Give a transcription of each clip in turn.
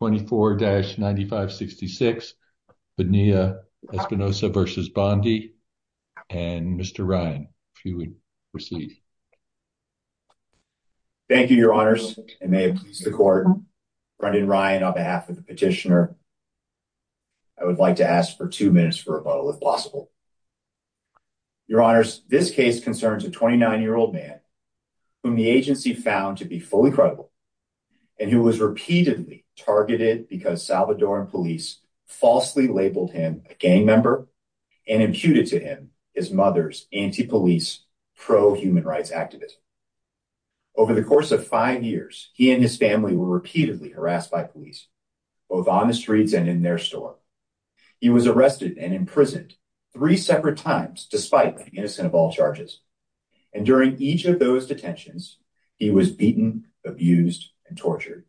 24-9566 Bonilla-Espinoza v. Bondi and Mr. Ryan if you would proceed. Thank you your honors and may it please the court Brendan Ryan on behalf of the petitioner I would like to ask for two minutes for rebuttal if possible. Your honors this case concerns a 29 year old man whom the agency found to be fully credible and who was repeatedly targeted because Salvadoran police falsely labeled him a gang member and imputed to him his mother's anti-police pro-human rights activist. Over the course of five years he and his family were repeatedly harassed by police both on the streets and in their store. He was arrested and imprisoned three separate times despite the innocent of all charges and during each of those detentions he was beaten, abused, and tortured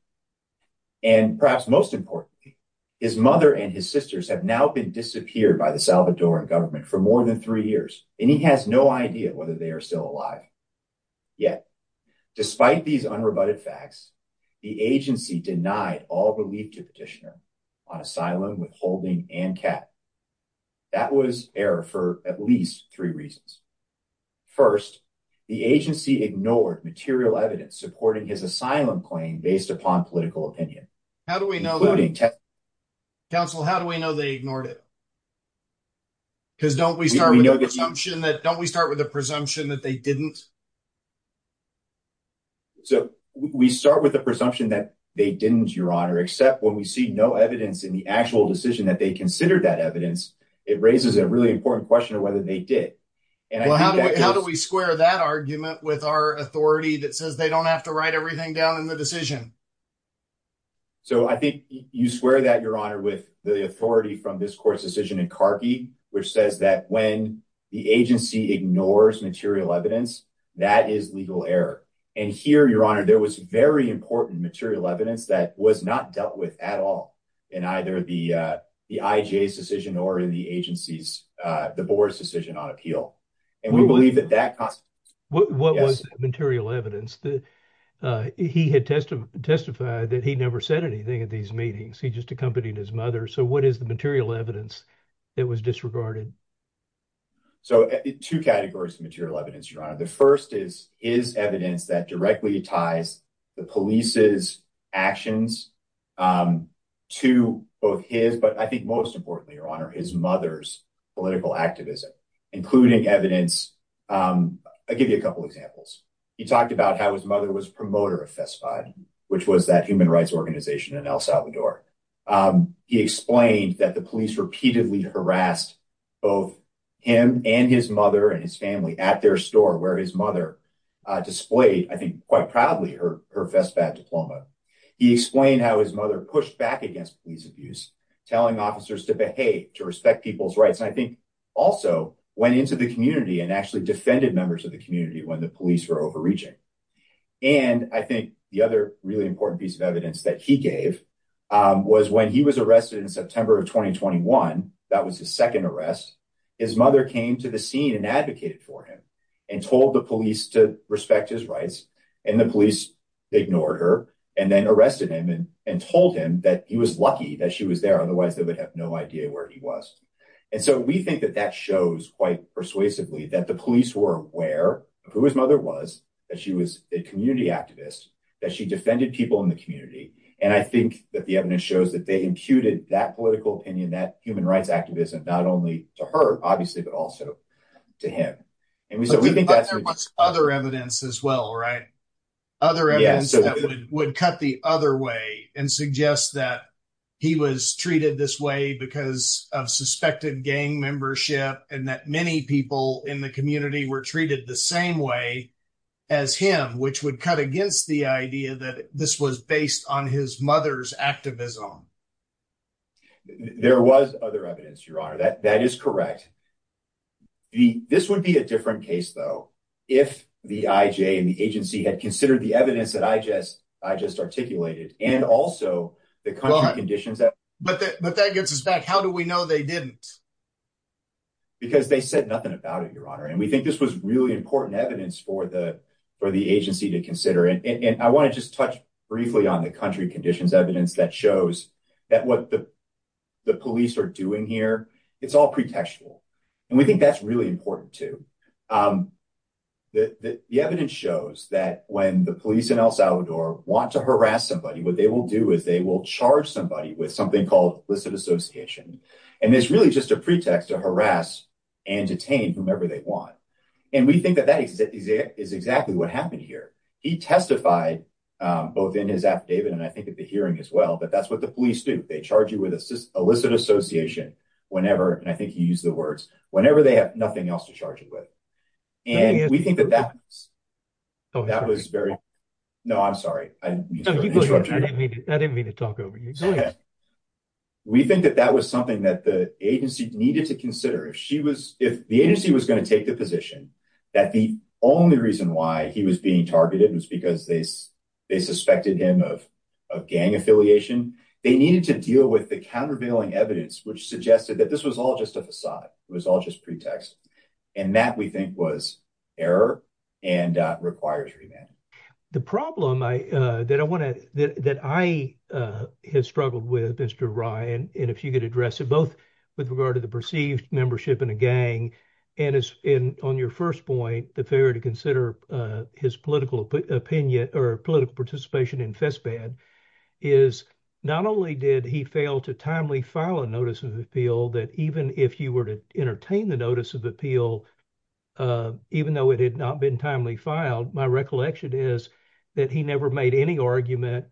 and perhaps most importantly his mother and his sisters have now been disappeared by the Salvadoran government for more than three years and he has no idea whether they are still alive. Yet despite these unrebutted facts the agency denied all relief to petitioner on asylum, withholding, and cap. That was error for at least three reasons. First the agency ignored material evidence supporting his asylum claim based upon political opinion. How do we know that? Counsel how do we know they ignored it? Because don't we start with a presumption that don't we start with a presumption that they didn't? So we start with a presumption that they didn't your honor except when we see no evidence in the actual decision that they considered that evidence it raises a really important question of whether they did. How do we square that argument with our authority that says they don't have to write everything down in the decision? So I think you square that your honor with the authority from this court's decision in Carkey which says that when the agency ignores material evidence that is legal error and here your honor there was very important material evidence that was not dealt with at all in either the the IGA's decision or in the agency's the board's decision on appeal and we believe that that... What was material evidence that he had testified that he never said anything at these meetings he just accompanied his mother so what is the material evidence that was disregarded? So two categories of material evidence your honor the first is his evidence that directly ties the police's actions to both his but I think most importantly your honor his mother's political activism including evidence I give you a couple examples he talked about how his mother was promoter of FESFOD which was that human rights organization in El Salvador he explained that the police repeatedly harassed both him and his mother and his family at their store where his mother displayed I think quite proudly her FESFOD diploma he explained how his mother pushed back against police abuse telling officers to behave to respect people's rights I think also went into the community and actually defended members of the community when the police were overreaching and I think the other really important piece of evidence that he gave was when he was arrested in September of 2021 that was the second arrest his mother came to the scene and advocated for him and told the police to respect his rights and the police ignored her and then arrested him and and told him that he was lucky that she was there otherwise they would have no idea where he was and so we think that that shows quite persuasively that the police were aware of who his mother was that she was a community activist that she defended people in the community and I think that the evidence shows that they imputed that political opinion that human rights activism not only to her obviously but also to him and so we think that's other evidence as well right other evidence that would cut the other way and suggest that he was treated this way because of suspected gang membership and that many people in the community were treated the same way as him which would cut against the idea that this was based on his mother's activism there was other evidence your honor that that is correct the this would be a different case though if the IJ and the agency had considered the evidence that I just I just articulated and also the conditions that but but that gets us back how do we know they didn't because they said nothing about it your honor and we think this was really important evidence for the for the agency to consider it and I want to just touch briefly on the country conditions evidence that shows that what the police are doing here it's all pretextual and we think that's really important to the evidence shows that when the police in El Salvador want to harass somebody what they will do is they will charge somebody with something called elicit association and there's really just a pretext to harass and detain whomever they want and we think that that is it is exactly what happened here he testified both in his affidavit and I think at the hearing as well but that's what the police do they charge you with us just elicit association whenever and I think you use the words whenever they have nothing else to charge it with and we think that that's oh that was very no I'm sorry I didn't mean to talk over you we think that that was something that the agency needed to consider if she was if the agency was going to take the position that the only reason why he was being targeted was because they they suspected him of a gang affiliation they needed to deal with the countervailing evidence which suggested that this was all just a facade it was all just pretext and that we think was error and requires the problem I that I want to that I had struggled with mr. Ryan and if you could address it both with regard to the perceived membership in a gang and as in on your first point the failure to consider his political opinion or political participation in Fesbad is not only did he fail to timely file a notice of appeal that even if you were to entertain the notice of appeal even though it had not been timely filed my recollection is that he never made any argument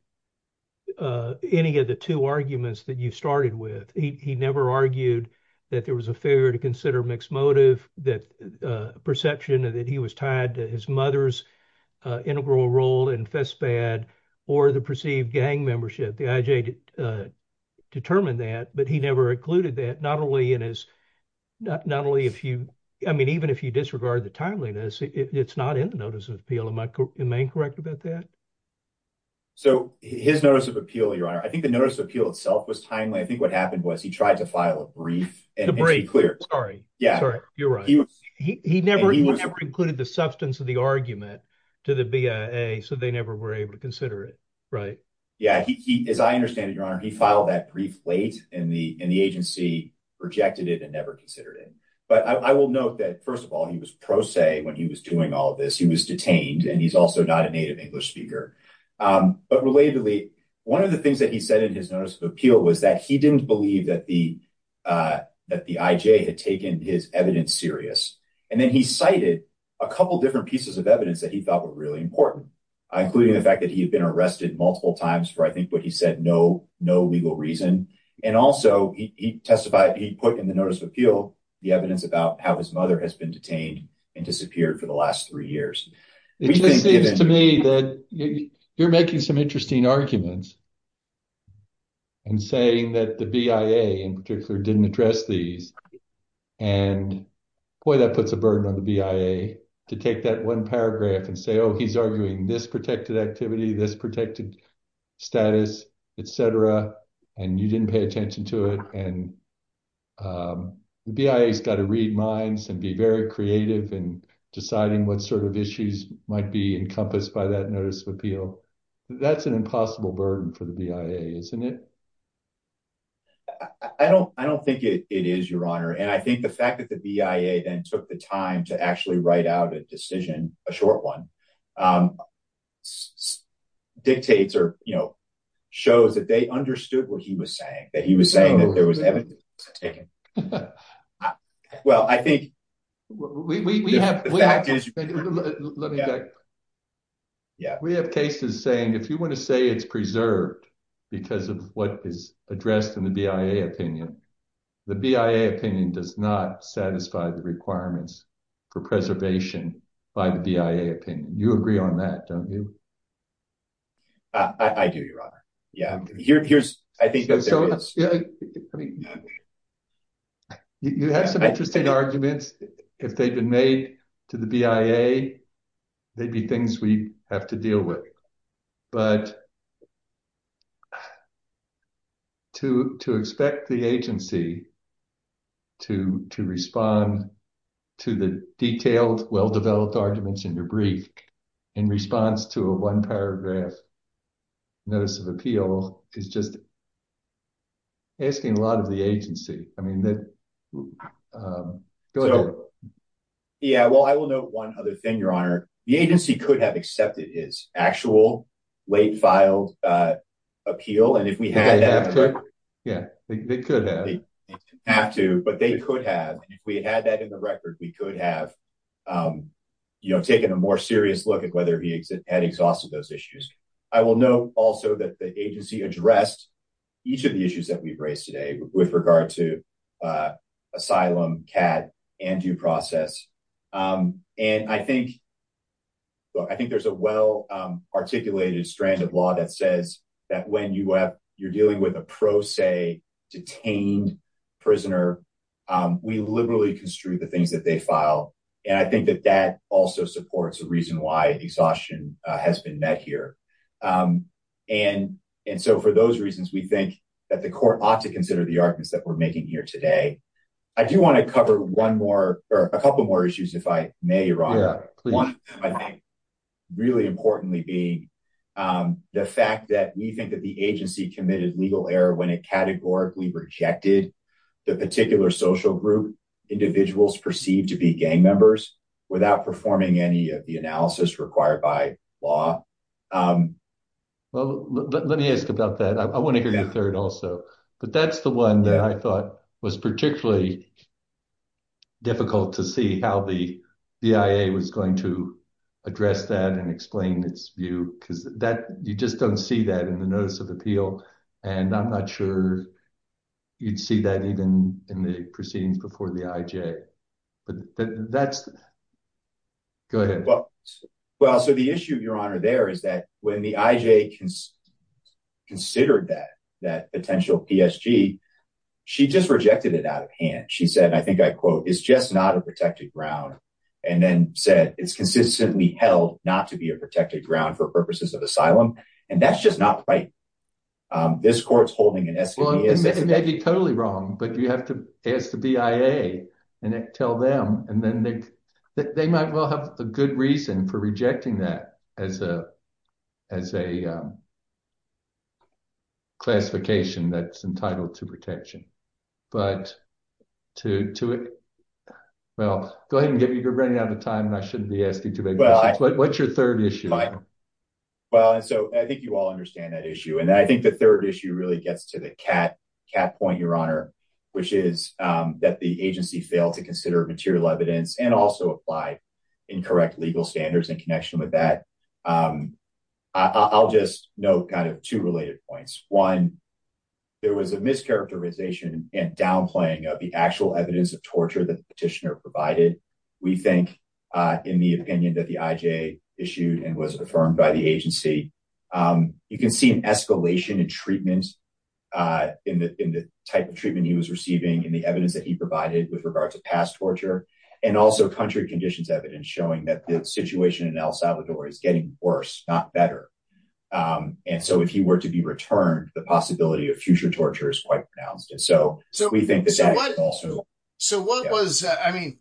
any of the two arguments that you started with he never argued that there was a failure to consider mixed motive that perception and that he was tied to his mother's integral role in Fesbad or the perceived gang membership the IJ determined that but he never included that not only in his not only if you I mean even if you disregard the timeliness it's not in the notice of appeal in my main correct about that so his notice of appeal your honor I think the notice of appeal itself was timely I happened was he tried to file a brief and the break clear sorry yeah you're right he was he never included the substance of the argument to the BIA so they never were able to consider it right yeah he as I understand it your honor he filed that brief late in the in the agency rejected it and never considered it but I will note that first of all he was pro se when he was doing all this he was detained and he's also not a native English speaker but relatedly one of the things that he said in his notice of appeal was that he didn't believe that the that the IJ had taken his evidence serious and then he cited a couple different pieces of evidence that he thought were really important including the fact that he had been arrested multiple times for I think what he said no no legal reason and also he testified he put in the notice of appeal the evidence about how his mother has been detained and disappeared for the last three years you're making some interesting arguments and saying that the BIA in particular didn't address these and boy that puts a burden on the BIA to take that one paragraph and say oh he's arguing this protected activity this protected status etc and you didn't pay attention to it and the BIA's got to read minds and be very creative and deciding what sort of issues might be encompassed by that notice of appeal that's an impossible burden for the BIA isn't it I don't I don't think it is your honor and I think the fact that the BIA then took the time to actually write out a decision a short one dictates or you know shows that they understood what he was saying that he was saying that there was evidence well I think we have cases saying if you want to say it's preserved because of what is addressed in the BIA opinion the BIA opinion does not satisfy the requirements for preservation by the BIA opinion you agree on that don't you I do your honor yeah here's I think you have some interesting arguments if they've been made to the BIA maybe things we have to but to to expect the agency to to respond to the detailed well-developed arguments in your brief in response to a one paragraph notice of appeal is just asking a lot of the agency I mean that yeah well I will know one other thing your honor the agency could have accepted his actual late filed appeal and if we have yeah they could have to but they could have if we had that in the record we could have you know taken a more serious look at whether he had exhausted those issues I will know also that the agency addressed each of the issues that we've raised today with regard to asylum cat and due process and I think I think there's a well-articulated strand of law that says that when you have you're dealing with a pro se detained prisoner we liberally construe the things that they file and I think that that also supports a reason why exhaustion has been met here and and so for those reasons we think that the court ought to consider the arguments that we're making here today I do want to one more or a couple more issues if I may your honor really importantly being the fact that we think that the agency committed legal error when it categorically rejected the particular social group individuals perceived to be gang members without performing any of the analysis required by law well let me ask about that I want to hear that third also but that's the one that I difficult to see how the VIA was going to address that and explain its view because that you just don't see that in the notice of appeal and I'm not sure you'd see that even in the proceedings before the IJ but that's good well well so the issue your honor there is that when the IJ can considered that that potential PSG she just rejected it out of hand she said I think I quote it's just not a protected ground and then said it's consistently held not to be a protected ground for purposes of asylum and that's just not right this court's holding an estimate it may be totally wrong but you have to ask the BIA and it tell them and then they they might well have a good reason for rejecting that as as a classification that's entitled to protection but to to it well go ahead and give you you're running out of time and I shouldn't be asking too big but what's your third issue right well and so I think you all understand that issue and I think the third issue really gets to the cat cat point your honor which is that the agency failed to consider material evidence and also applied in correct legal standards in connection with that I'll just know kind of two related points one there was a mischaracterization and downplaying of the actual evidence of torture that petitioner provided we think in the opinion that the IJ issued and was affirmed by the agency you can see an escalation in treatment in the type of treatment he was receiving in the evidence that he provided with regard to past torture and also country conditions evidence showing that the situation in El Salvador is getting worse not better and so if he were to be returned the possibility of future torture is quite pronounced and so so we think so what was I mean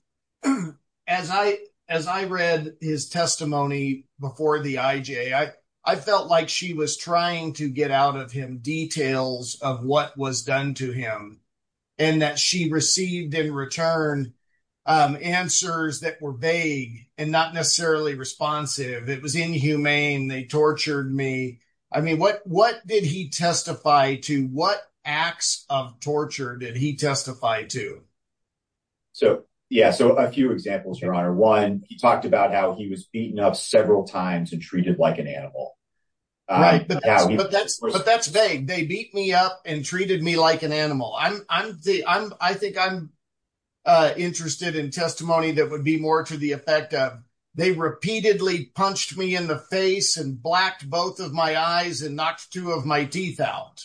as I as I read his testimony before the IJ I I felt like she was trying to get out of him details of what was done to him and that she received in return answers that were vague and not necessarily responsive it was inhumane they tortured me I mean what what did he testify to what acts of torture did he testify to so yeah so a few examples your honor one he talked about how he was beaten up several times and treated like an animal but that's vague they beat me up and treated me like an animal I'm I'm the I'm I think I'm interested in testimony that would be more to the effect of they repeatedly punched me in the face and blacked both of my eyes and knocked two of my teeth out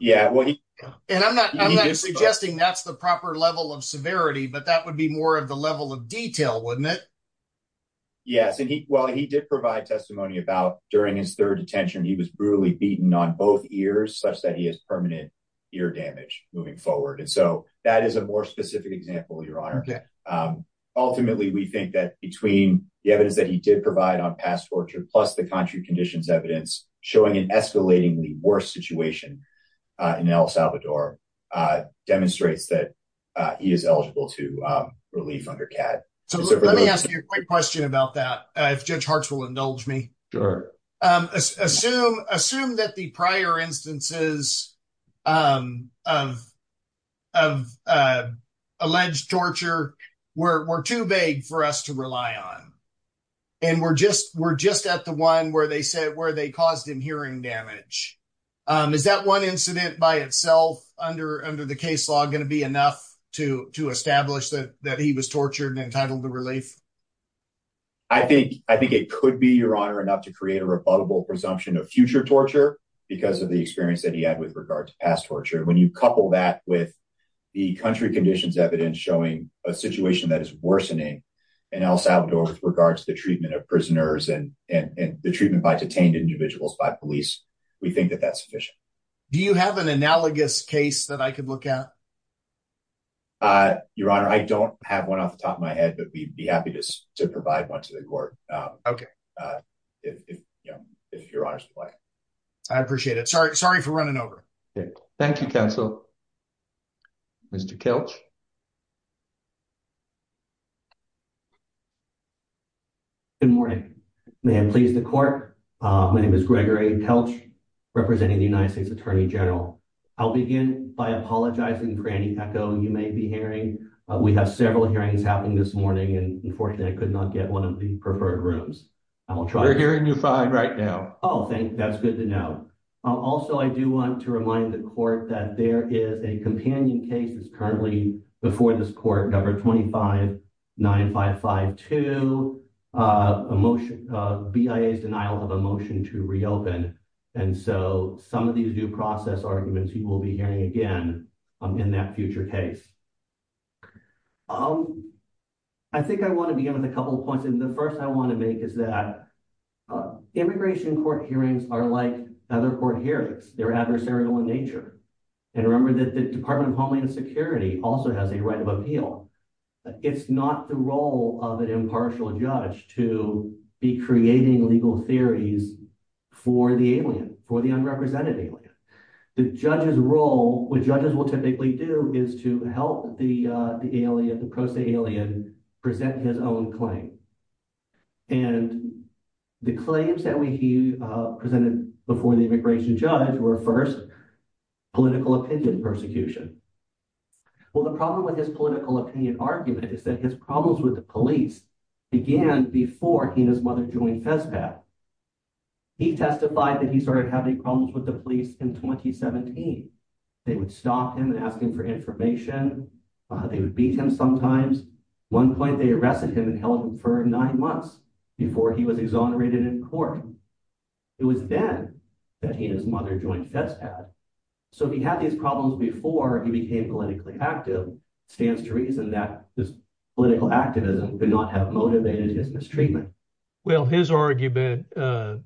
yeah and I'm not suggesting that's the proper level of severity but that would be more of the level of detail wouldn't it yes and he well he did provide testimony about during his third detention he was brutally beaten on both ears such that he has permanent ear damage moving forward and so that is a more specific example your honor ultimately we think that between the evidence that he did provide on past torture plus the country conditions evidence showing an escalating the worst situation in El Salvador demonstrates that he is eligible to relief under CAD so let me ask you a question about that if judge hearts will indulge me sure assume assume that the prior instances of alleged torture were too vague for us to rely on and we're just we're just at the one where they said where they caused him hearing damage is that one incident by itself under under the case going to be enough to to establish that that he was tortured and entitled to relief I think I think it could be your honor enough to create a rebuttable presumption of future torture because of the experience that he had with regard to past torture when you couple that with the country conditions evidence showing a situation that is worsening in El Salvador with regards to the treatment of prisoners and and the treatment by detained individuals by police we think that that's efficient do you have an analogous case that I could look at your honor I don't have one off the top of my head but we'd be happy to provide one to the court okay I appreciate it sorry sorry for running over thank you counsel mr. Kelch good morning ma'am please the court my name is Gregory Kelch representing the United States Attorney General I'll begin by apologizing for any echo you may be hearing we have several hearings happening this morning and unfortunately I could not get one of the preferred rooms I will try hearing you fine right now oh thank that's good to know also I do want to remind the court that there is a companion case is currently before this court number 25 9 5 5 2 emotion BIA's denial of a motion to reopen and so some of these new process arguments you will be hearing again in that future case um I think I want to begin with a couple of points and the first I want to make is that immigration court hearings are like other court hearings they're adversarial in nature and remember that the Department of Homeland Security also has a right of appeal it's not the role of an impartial judge to be creating legal theories for the alien for the unrepresented alien the judge's role which judges will typically do is to help the alien the prosaic alien present his own claim and the claims that we presented before the immigration judge were first political opinion persecution well the problem with his political opinion argument is that his problems with the police began before he and his mother joined FESPAD he testified that he started having problems with the police in 2017 they would stop him asking for information they would beat him sometimes one point they arrested him and held him for nine months before he was exonerated in court it was then that he and his mother joined FESPAD so he had these problems before he became politically active stands to reason that his political activism did not have motivated his mistreatment well his argument I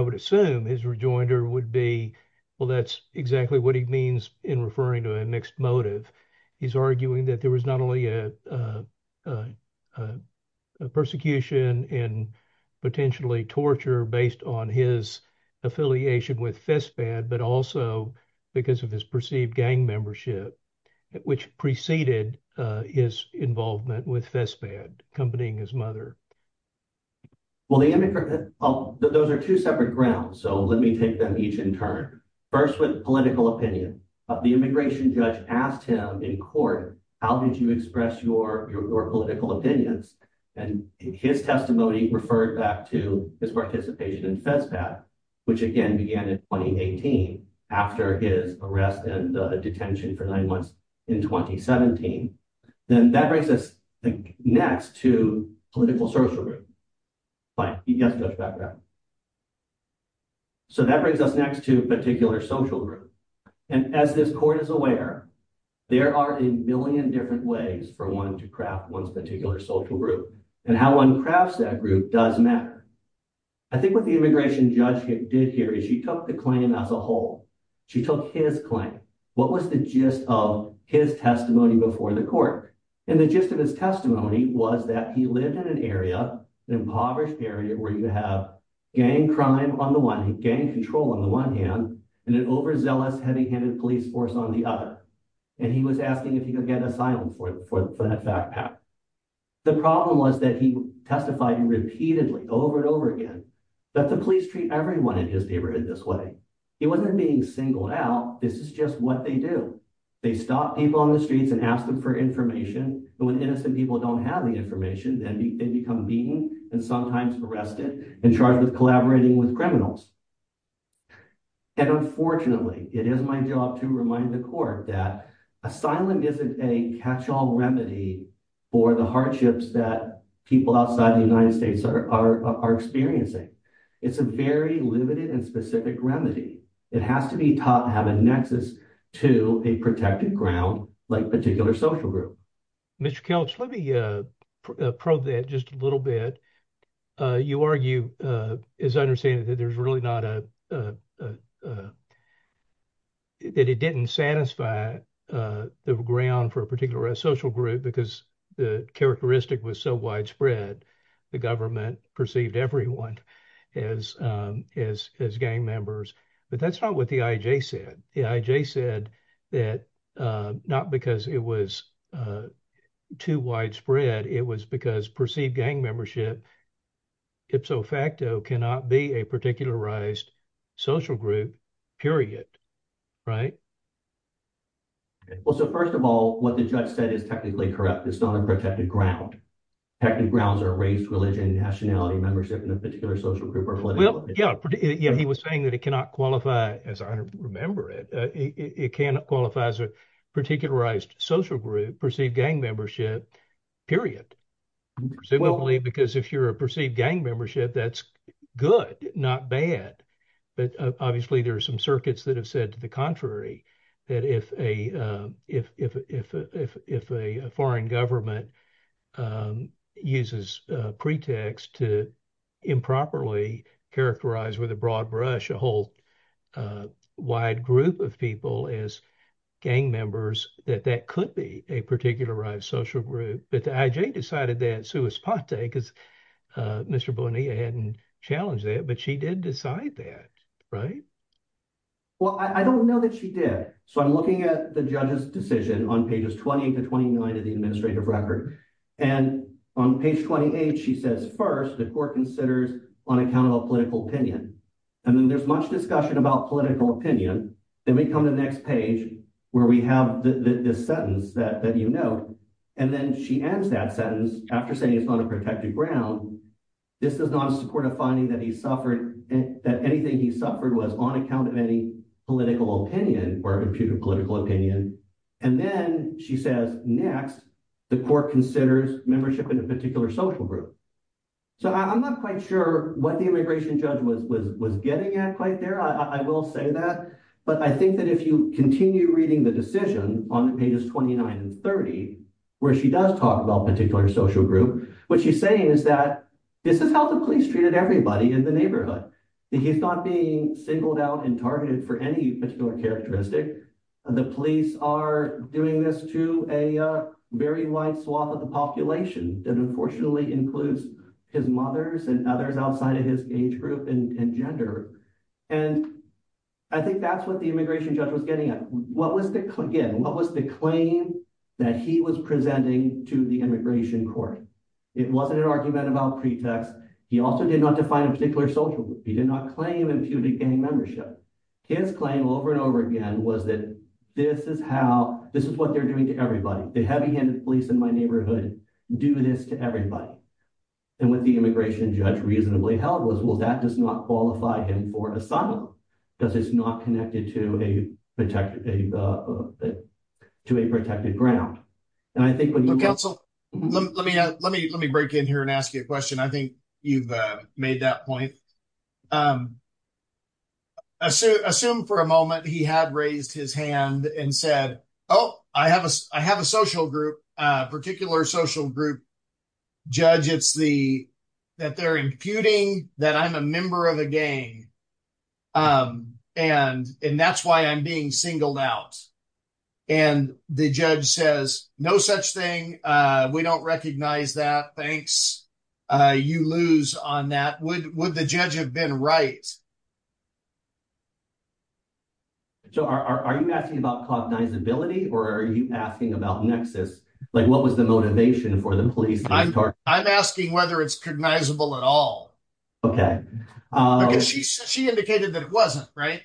would assume his rejoinder would be well that's exactly what he means in referring to a mixed motive he's arguing that there was not only a persecution and potentially torture based on his affiliation with FESPAD but also because of his perceived gang membership which preceded his involvement with FESPAD accompanying his mother well the immigrant oh those are two separate grounds so let me take them each in turn first with political opinion of the immigration judge asked him in court how did you express your your political opinions and his testimony referred back to his participation in FESPAD which again began in 2018 after his arrest and detention for nine months in 2017 then that brings us next to political social group but he doesn't go to background so that brings us next to particular social group and as this court is aware there are a million different ways for one to craft one's particular social group and how one crafts that group does matter I think what the immigration judge did here is she took the claim as a whole she took his claim what was the gist of his testimony before the court and the gist of his testimony was that he lived in an area an impoverished area where you have gang crime on the one hand gang control on the one hand and an overzealous heavy-handed police force on the other and he was asking if he could get asylum for that backpack the problem was that he testified and repeatedly over and over again that the police treat everyone in his neighborhood this way it wasn't being singled out this is just what they do they stop people on the streets and ask them for information and when innocent people don't have the information then they become beaten and sometimes arrested and charged with collaborating with criminals and unfortunately it is my job to remind the court that asylum isn't a catch-all remedy for the hardships that people outside the United States are experiencing it's a very limited and specific remedy it has to be taught to have a nexus to a protected ground like particular social group Mr. Kelch let me probe that just a little bit you argue is understanding that there's really not a that it didn't satisfy the ground for a particular social group because the characteristic was so widespread the government perceived everyone as as gang members but that's not what the IJ said the IJ said that not because it was too widespread it was because perceived gang membership ipso facto cannot be a particularized social group period right well so first of all what the judge said is technically correct it's not a ground active grounds are raised religion nationality membership in a particular social group well yeah yeah he was saying that it cannot qualify as I remember it it cannot qualify as a particularized social group perceived gang membership period presumably because if you're a perceived gang membership that's good not bad but obviously there are some circuits that said to the contrary that if a if a foreign government uses pretext to improperly characterize with a broad brush a whole wide group of people as gang members that that could be a particularized social group but the IJ decided that suespante because mr. Bonilla hadn't challenged that but she did decide that right well I don't know that she did so I'm looking at the judges decision on pages 20 to 29 of the administrative record and on page 28 she says first the court considers on account of a political opinion and then there's much discussion about political opinion then we come to the next page where we have the sentence that that you know and then she ends that sentence after saying it's not a protected ground this does not support a finding that he suffered and that anything he suffered was on account of any political opinion or a computer political opinion and then she says next the court considers membership in a particular social group so I'm not quite sure what the immigration judge was getting at quite there I will say that but I think that if you continue reading the decision on pages 29 and 30 where she does talk about particular social group what she's saying is that this is how the police treated everybody in the neighborhood he's not being singled out and targeted for any particular characteristic the police are doing this to a very wide swath of the population that unfortunately includes his mother's and others outside of his age group and gender and I think that's what the immigration judge was getting at what was the click in what was the claim that he was presenting to the immigration court it wasn't an argument about pretext he also did not define a particular social group he did not claim imputed gang membership his claim over and over again was that this is how this is what they're doing to everybody the heavy-handed police in my neighborhood do this to everybody and with the immigration judge reasonably held was well that does not qualify him for asylum because it's not connected to a protected to a protected ground and I think when you cancel let me let me let me break in here and ask you a question I think you've made that point assume for a moment he had raised his hand and said oh I have a I have a social group particular social group judge it's the that they're imputing that I'm a member of a gang and and that's why I'm being singled out and the judge says no such thing we don't recognize that thanks you lose on that would would the judge have been right so are you asking about cognizability or are you asking about Nexus like what was the motivation for the police I'm asking whether it's cognizable at all okay she indicated that it wasn't right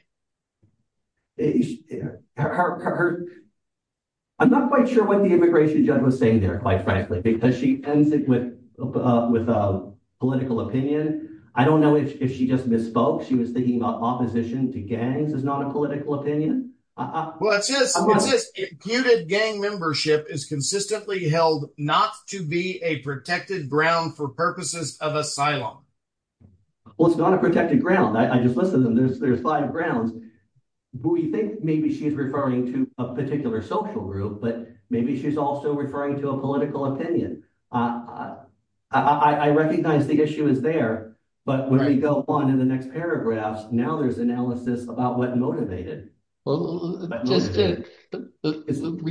I'm not quite sure what the immigration judge was saying there quite frankly because she ends it with with a political opinion I don't know if she just misspoke she was thinking about opposition to gangs is not a political opinion what's this imputed gang membership is consistently held not to be a protected ground for purposes of asylum well it's not a protected ground I just listen to this there's five grounds who you think maybe she's referring to a particular social group but maybe she's also referring to a political opinion I I recognize the issue is there but when we go on in the next paragraphs now there's analysis about what motivated well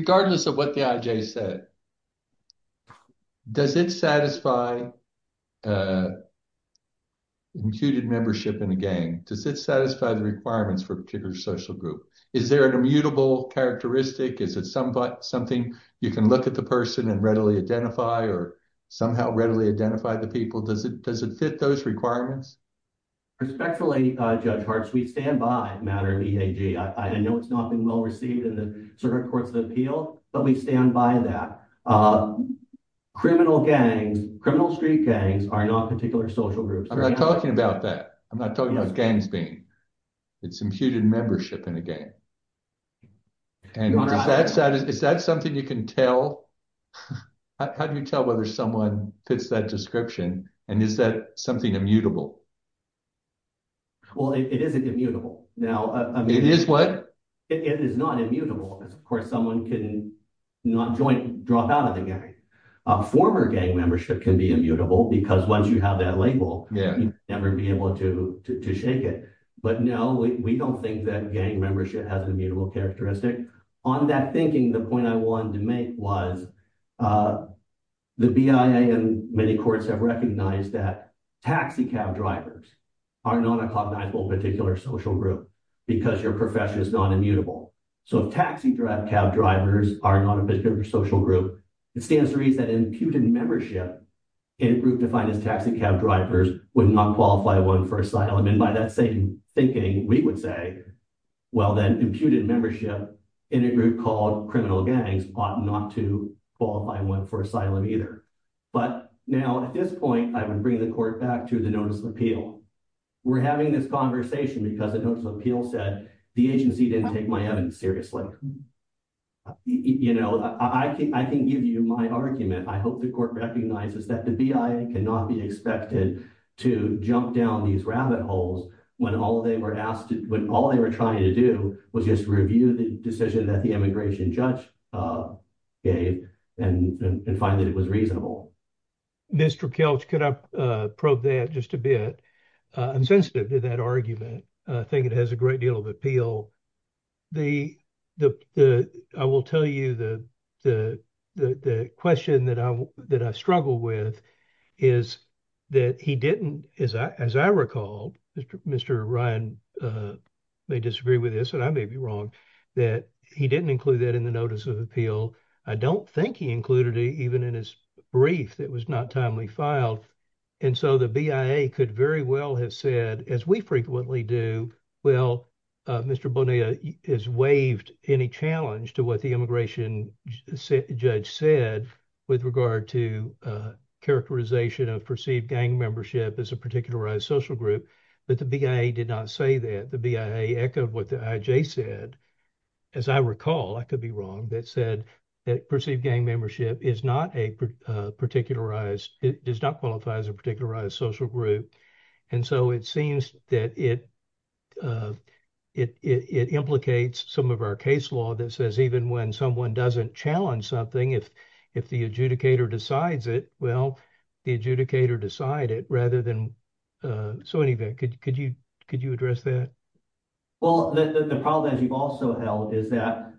regardless of what the IJ said does it satisfy imputed membership in a gang does it satisfy the requirements for particular social group is there an immutable characteristic is it some but something you can look at the person and readily identify or somehow readily identify the people does it does it fit those requirements respectfully judge hearts we stand by matter of EAG I know it's not been well received in the circuit courts of appeal but we stand by that criminal gangs criminal street gangs are not particular social groups I'm not talking about that I'm not talking about gangs being it's imputed membership in a game and that's that is that something you can tell how do you tell whether someone fits that description and is that something immutable well it isn't immutable now it is what it is not immutable of course someone couldn't not joint drop out of the game a former gang membership can be immutable because once you have that label yeah never be able to shake it but no we don't think that gang membership has immutable characteristic on that thinking the point I wanted to make was the BIA and many courts have recognized that taxi cab drivers are not a cognizable particular social group because your profession is not immutable so taxi drive cab drivers are not a particular social group it stands to reason that imputed membership in a group defined as taxi cab drivers would not qualify one for asylum and by that same thinking we would say well then imputed membership in a group called criminal gangs ought not to qualify one for asylum either but now at this point I would bring the court back to the notice of appeal we're having this conversation because the notice of appeal said the agency didn't take my evidence seriously you know I think I can give you my argument I hope the court recognizes that the BIA cannot be expected to jump down these rabbit holes when all they were asked when all they were trying to do was just review the decision that the immigration judge gave and find that it was reasonable Mr. Kelch could I probe that just a bit I'm sensitive to that argument I think it has a great deal of appeal the the I will tell you the the question that I struggle with is that he didn't as I as I recall Mr. Ryan may disagree with this and I may be wrong that he didn't include that in the notice of appeal I don't think he included it even in his brief that was not timely filed and so the BIA could very well have said as we frequently do well Mr. Bonilla is waived any challenge to what the immigration judge said with regard to characterization of perceived gang membership as a particularized social group but the BIA did not say that the BIA echoed what the IJ said as I recall I could be wrong that said that perceived gang membership is not a particularized it does not qualify as a particularized social group and so it seems that it it implicates some of our case law that says even when someone doesn't challenge something if if the adjudicator decides it well the adjudicator decide it rather than so anyway could you could you address that well the problem that you've also held is that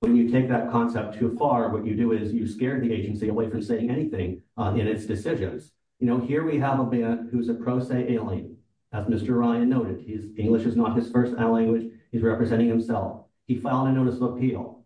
when you take that concept too far what you do is you scare the agency away from saying anything in its decisions you know here we have a man who's a pro se alien as Mr. Ryan noted he's English is not his first language he's representing himself he filed a notice of appeal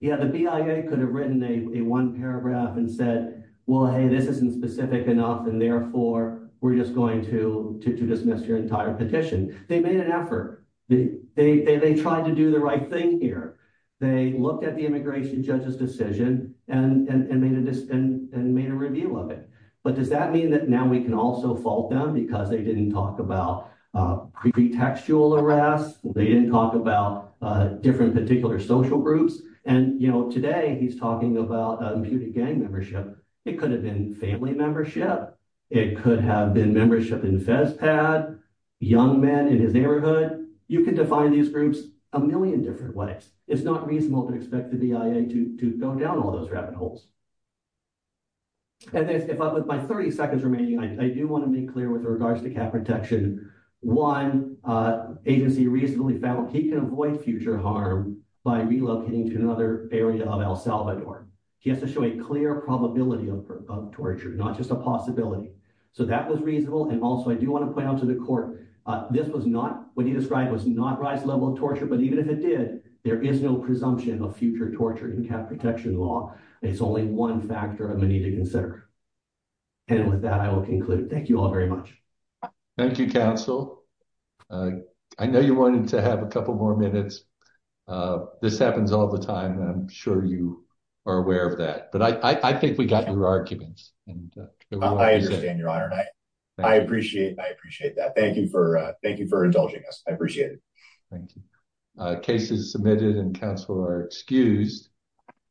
yeah the BIA could have written a one paragraph and said well hey this isn't specific enough and therefore we're just going to to dismiss your entire petition they made an effort they they tried to do the right thing here they looked at the immigration judge's decision and made a review of it but does that mean that now we can also fault them because they didn't talk about pretextual arrest they didn't talk about different particular social groups and you know today he's talking about a gang membership it could have been family membership it could have been membership in the feds pad young men in his neighborhood you can define these groups a million different ways it's not reasonable to expect the BIA to go down all those rabbit holes and then if I put my 30 seconds remaining I do want to make clear with regards to cap protection one agency reasonably found he can avoid future harm by relocating to another area of El Salvador he has to show a clear probability of torture not just a possibility so that was reasonable and also I do want to point out to the court this was not what he described was not rise level of torture but even if it did there is no presumption of future torture in cap protection law it's only one factor of money to consider and with that I will conclude thank you all very much thank you counsel I know you wanted to have a couple more minutes this happens all the time I'm sure you are aware of that but I think we got your arguments and I appreciate I appreciate that thank you for thank you for indulging us I appreciate it thank cases submitted and counsel are excused